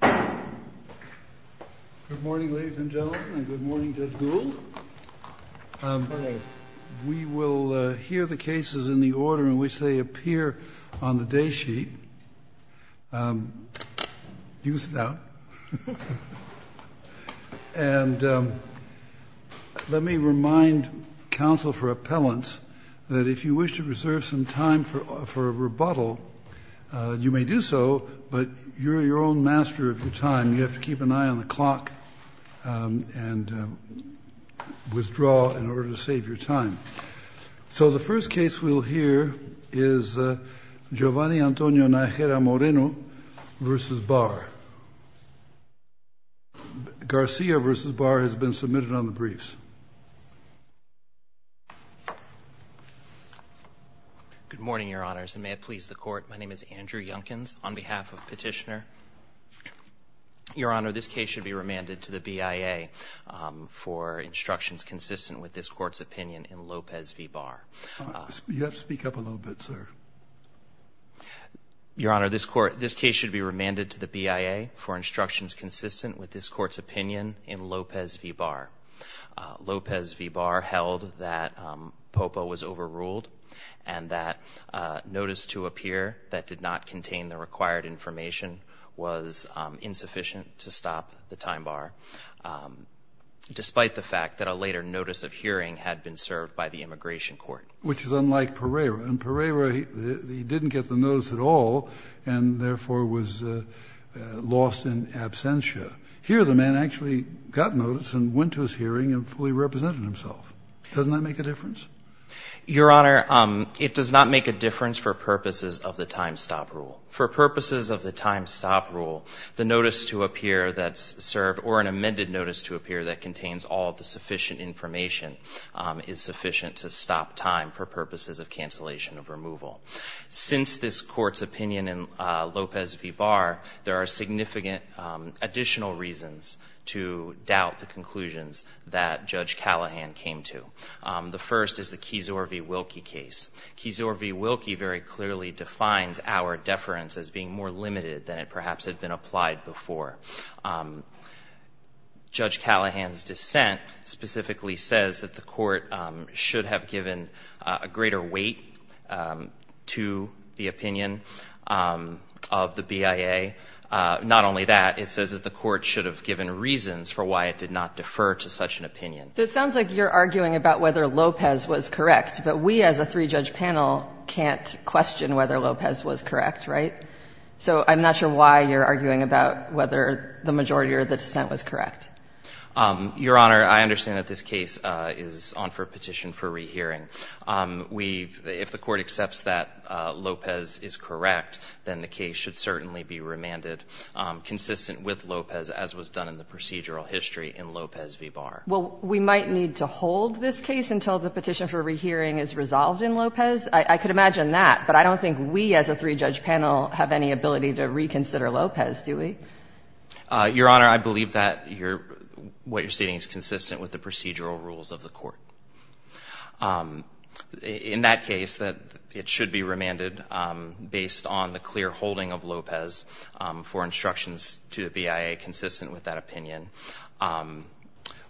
Good morning, ladies and gentlemen, and good morning, Judge Gould. We will hear the cases in the order in which they appear on the day sheet. You can sit down. And let me remind counsel for appellants that if you wish to reserve some time for rebuttal, you may do so, but you're your own master of your time. You have to keep an eye on the clock and withdraw in order to save your time. So the first case we'll hear is Giovanni Antonio Najera Moreno v. Barr. Garcia v. Barr has been submitted on the briefs. Good morning, Your Honors, and may it please the Court. My name is Andrew Yunkins. On behalf of Petitioner, Your Honor, this case should be remanded to the BIA for instructions consistent with this Court's opinion in Lopez v. Barr. You have to speak up a little bit, sir. Your Honor, this case should be remanded to the BIA for instructions consistent with this Court's opinion in Lopez v. Barr. Lopez v. Barr held that Popa was overruled and that notice to appear that did not contain the required information was insufficient to stop the time bar, despite the fact that a later notice of hearing had been served by the Immigration Court. Which is unlike Pereira. And Pereira, he didn't get the notice at all and, therefore, was lost in absentia. Here, the man actually got notice and went to his hearing and fully represented himself. Doesn't that make a difference? Your Honor, it does not make a difference for purposes of the time stop rule. For purposes of the time stop rule, the notice to appear that's served, or an amended notice to appear that contains all the sufficient information, is sufficient to stop time for purposes of cancellation of removal. Since this Court's opinion in Lopez v. Barr, there are significant additional reasons to doubt the conclusions that Judge Callahan came to. The first is the Kizor v. Wilkie case. Kizor v. Wilkie very clearly defines our deference as being more limited than it perhaps had been applied before. Judge Callahan's dissent specifically says that the Court should have given a greater weight to the opinion of the BIA. Not only that, it says that the Court should have given reasons for why it did not defer to such an opinion. So it sounds like you're arguing about whether Lopez was correct, but we as a three-judge panel can't question whether Lopez was correct, right? So I'm not sure why you're arguing about whether the majority of the dissent was correct. Your Honor, I understand that this case is on for a petition for rehearing. We've – if the Court accepts that Lopez is correct, then the case should certainly be remanded consistent with Lopez as was done in the procedural history in Lopez v. Barr. Well, we might need to hold this case until the petition for rehearing is resolved in Lopez. I could imagine that, but I don't think we as a three-judge panel have any ability to reconsider Lopez, do we? Your Honor, I believe that what you're stating is consistent with the procedural rules of the Court. In that case, it should be remanded based on the clear holding of Lopez for instructions to the BIA consistent with that opinion.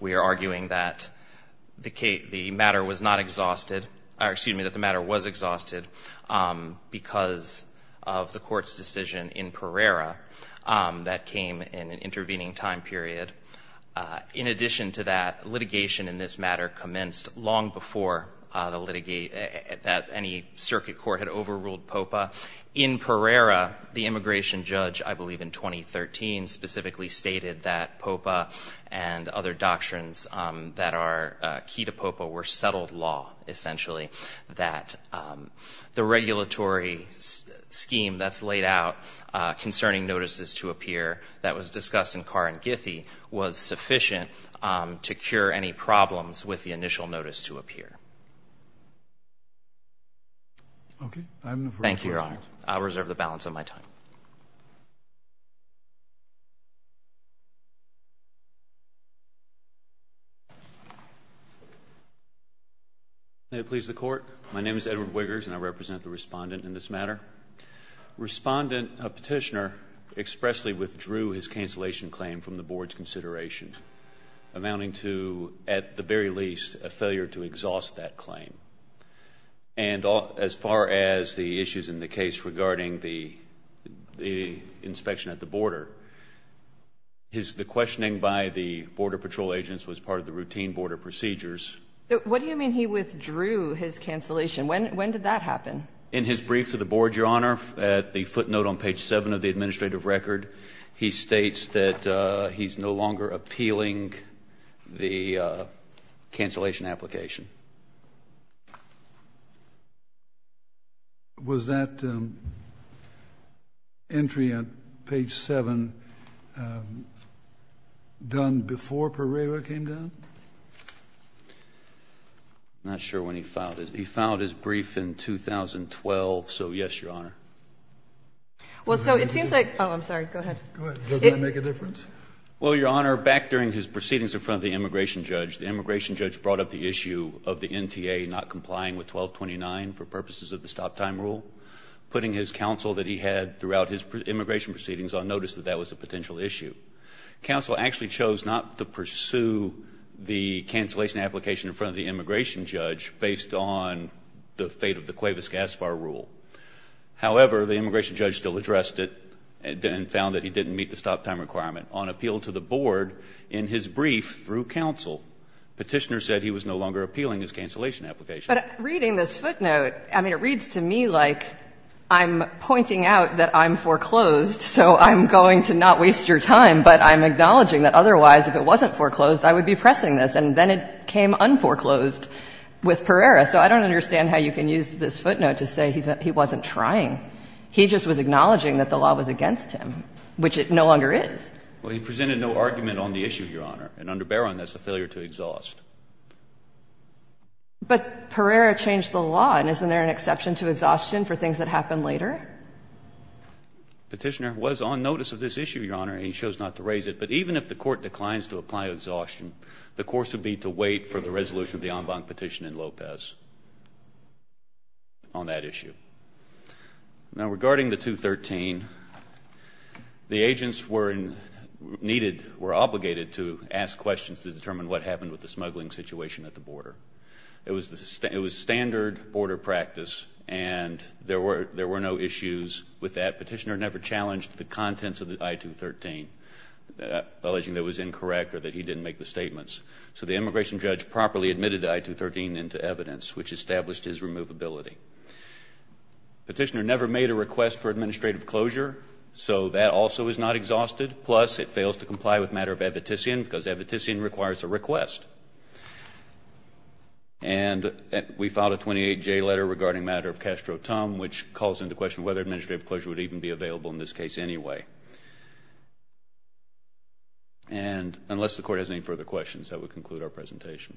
We are arguing that the matter was not exhausted – or, excuse me, that the matter was exhausted because of the Court's decision in Pereira that came in an intervening time period. In addition to that, litigation in this matter commenced long before any circuit court had overruled POPA. In Pereira, the immigration judge, I believe in 2013, specifically stated that POPA and other doctrines that are key to POPA were settled law, essentially, that the regulatory scheme that's laid out concerning notices to appear that was discussed in Carr and Githy was sufficient to cure any problems with the initial notice to appear. Thank you, Your Honor. I reserve the balance of my time. May it please the Court. My name is Edward Wiggers, and I represent the Respondent in this matter. Respondent Petitioner expressly withdrew his cancellation claim from the Board's consideration, amounting to, at the very least, a failure to exhaust that claim. And as far as the issues in the case regarding the inspection at the border, the questioning by the Border Patrol agents was part of the routine border procedures. What do you mean he withdrew his cancellation? When did that happen? In his brief to the Board, Your Honor, at the footnote on page 7 of the administrative record, he states that he's no longer appealing the cancellation application. Was that entry on page 7 done before Pereira came down? I'm not sure when he filed it. He filed his brief in 2012, so yes, Your Honor. Well, so it seems like – oh, I'm sorry. Go ahead. Go ahead. Does that make a difference? Well, Your Honor, back during his proceedings in front of the immigration judge, the immigration judge brought up the issue of the NTA not complying with 1229 for purposes of the stop-time rule, putting his counsel that he had throughout his immigration proceedings on notice that that was a potential issue. Counsel actually chose not to pursue the cancellation application in front of the immigration judge based on the fate of the Cuevas-Gaspar rule. However, the immigration judge still addressed it and found that he didn't meet the stop-time requirement. On appeal to the Board in his brief through counsel, Petitioner said he was no longer appealing his cancellation application. But reading this footnote, I mean, it reads to me like I'm pointing out that I'm foreclosed, so I'm going to not waste your time, but I'm acknowledging that otherwise, if it wasn't foreclosed, I would be pressing this. And then it came unforeclosed with Pereira. So I don't understand how you can use this footnote to say he wasn't trying. He just was acknowledging that the law was against him, which it no longer is. Well, he presented no argument on the issue, Your Honor, and under Barron, that's a failure to exhaust. But Pereira changed the law, and isn't there an exception to exhaustion for things that happen later? Petitioner was on notice of this issue, Your Honor, and he chose not to raise it. But even if the Court declines to apply exhaustion, the course would be to wait for the resolution of the en banc petition in Lopez on that issue. Now, regarding the 213, the agents were needed, were obligated to ask questions to determine what happened with the smuggling situation at the border. It was standard border practice, and there were no issues with that. Petitioner never challenged the contents of the I-213, alleging that it was incorrect or that he didn't make the statements. So the immigration judge properly admitted the I-213 into evidence, which established his removability. Petitioner never made a request for administrative closure, so that also is not exhausted. Plus, it fails to comply with matter of evitician, because evitician requires a request. And we filed a 28J letter regarding matter of castro-tum, which calls into question whether administrative closure would even be available in this case anyway. And unless the Court has any further questions, that would conclude our presentation.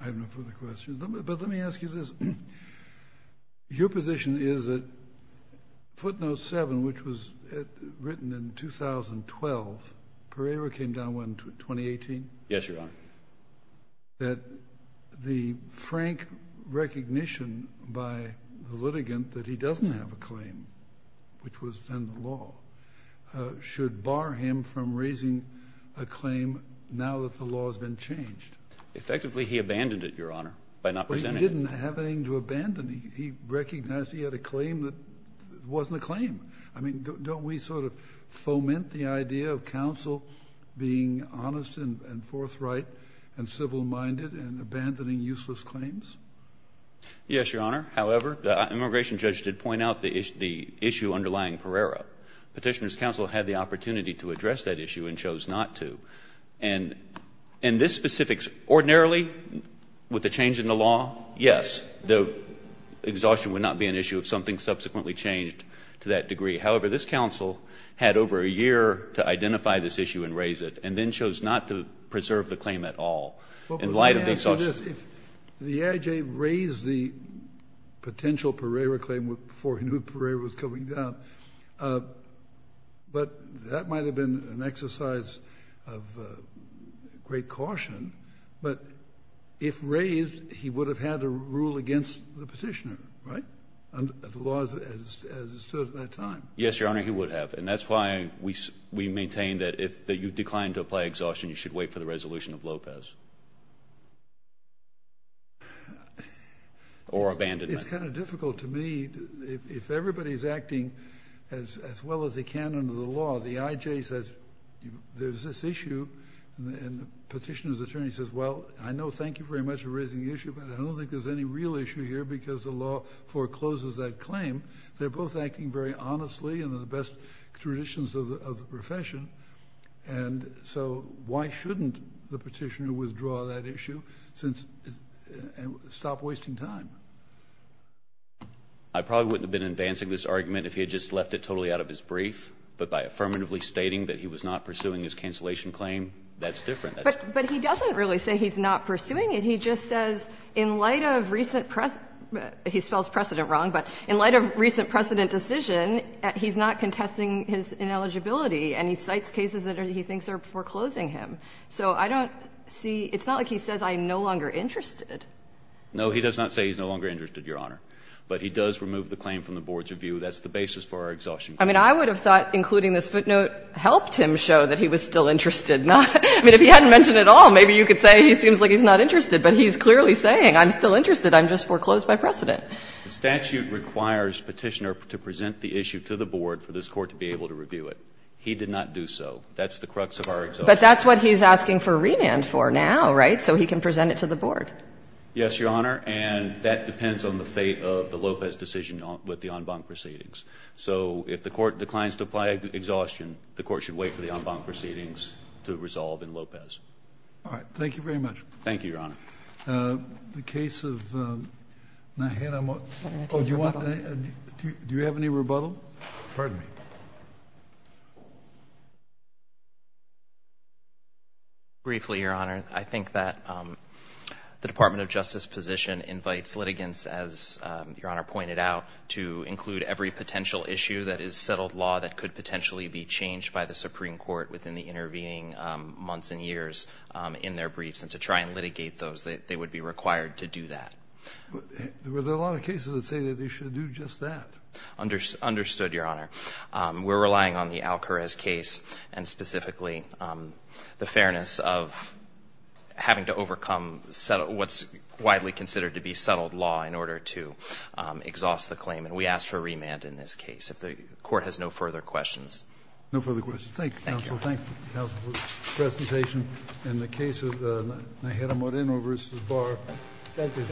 I have no further questions. But let me ask you this. Your position is that footnote 7, which was written in 2012, Pereira came down when, 2018? Yes, Your Honor. That the frank recognition by the litigant that he doesn't have a claim, which was then the law, should bar him from raising a claim now that the law has been changed? Effectively, he abandoned it, Your Honor, by not presenting it. But he didn't have anything to abandon. He recognized he had a claim that wasn't a claim. I mean, don't we sort of foment the idea of counsel being honest and forthright and civil-minded and abandoning useless claims? Yes, Your Honor. However, the immigration judge did point out the issue underlying Pereira. Petitioner's counsel had the opportunity to address that issue and chose not to. And this specific ordinarily, with the change in the law, yes, the exhaustion would not be an issue if something subsequently changed to that degree. However, this counsel had over a year to identify this issue and raise it, and then chose not to preserve the claim at all in light of the exhaustion. Your Honor, if the AIJ raised the potential Pereira claim before he knew Pereira was coming down, but that might have been an exercise of great caution. But if raised, he would have had to rule against the petitioner, right, under the laws as it stood at that time. Yes, Your Honor, he would have. And that's why we maintain that if you decline to apply exhaustion, you should wait for the resolution of Lopez or abandonment. It's kind of difficult to me. If everybody's acting as well as they can under the law, the AIJ says there's this issue, and the petitioner's attorney says, well, I know, thank you very much for raising the issue, but I don't think there's any real issue here because the law forecloses that claim. They're both acting very honestly and in the best traditions of the profession. And so why shouldn't the petitioner withdraw that issue and stop wasting time? I probably wouldn't have been advancing this argument if he had just left it totally out of his brief. But by affirmatively stating that he was not pursuing his cancellation claim, that's different. But he doesn't really say he's not pursuing it. He just says in light of recent precedent, he spells precedent wrong, but in light of recent precedent decision, he's not contesting his ineligibility, and he cites cases that he thinks are foreclosing him. So I don't see – it's not like he says I'm no longer interested. No, he does not say he's no longer interested, Your Honor. But he does remove the claim from the board's review. That's the basis for our exhaustion. I mean, I would have thought including this footnote helped him show that he was still interested. I mean, if he hadn't mentioned it all, maybe you could say he seems like he's not interested. But he's clearly saying I'm still interested. I'm just foreclosed by precedent. The statute requires Petitioner to present the issue to the board for this Court to be able to review it. He did not do so. That's the crux of our exhaustion. But that's what he's asking for remand for now, right? So he can present it to the board. Yes, Your Honor. And that depends on the fate of the Lopez decision with the en banc proceedings. So if the Court declines to apply exhaustion, the Court should wait for the en banc proceedings to resolve in Lopez. All right. Thank you very much. Thank you, Your Honor. The case of Nahid Amut. Do you have any rebuttal? Briefly, Your Honor. I think that the Department of Justice position invites litigants, as Your Honor pointed out, to include every potential issue that is settled law that could potentially be changed by the Supreme Court within the intervening months and years in their case. would be the one that would be required to do that. Well, there are a lot of cases that say that they should do just that. Understood, Your Honor. We're relying on the Alcarez case and specifically the fairness of having to overcome what's widely considered to be settled law in order to exhaust the claim. And we ask for remand in this case. If the Court has no further questions. No further questions. Thank you, counsel. Thank you, counsel, for the presentation. In the case of Nahid Amut vs. Barr. Thank you.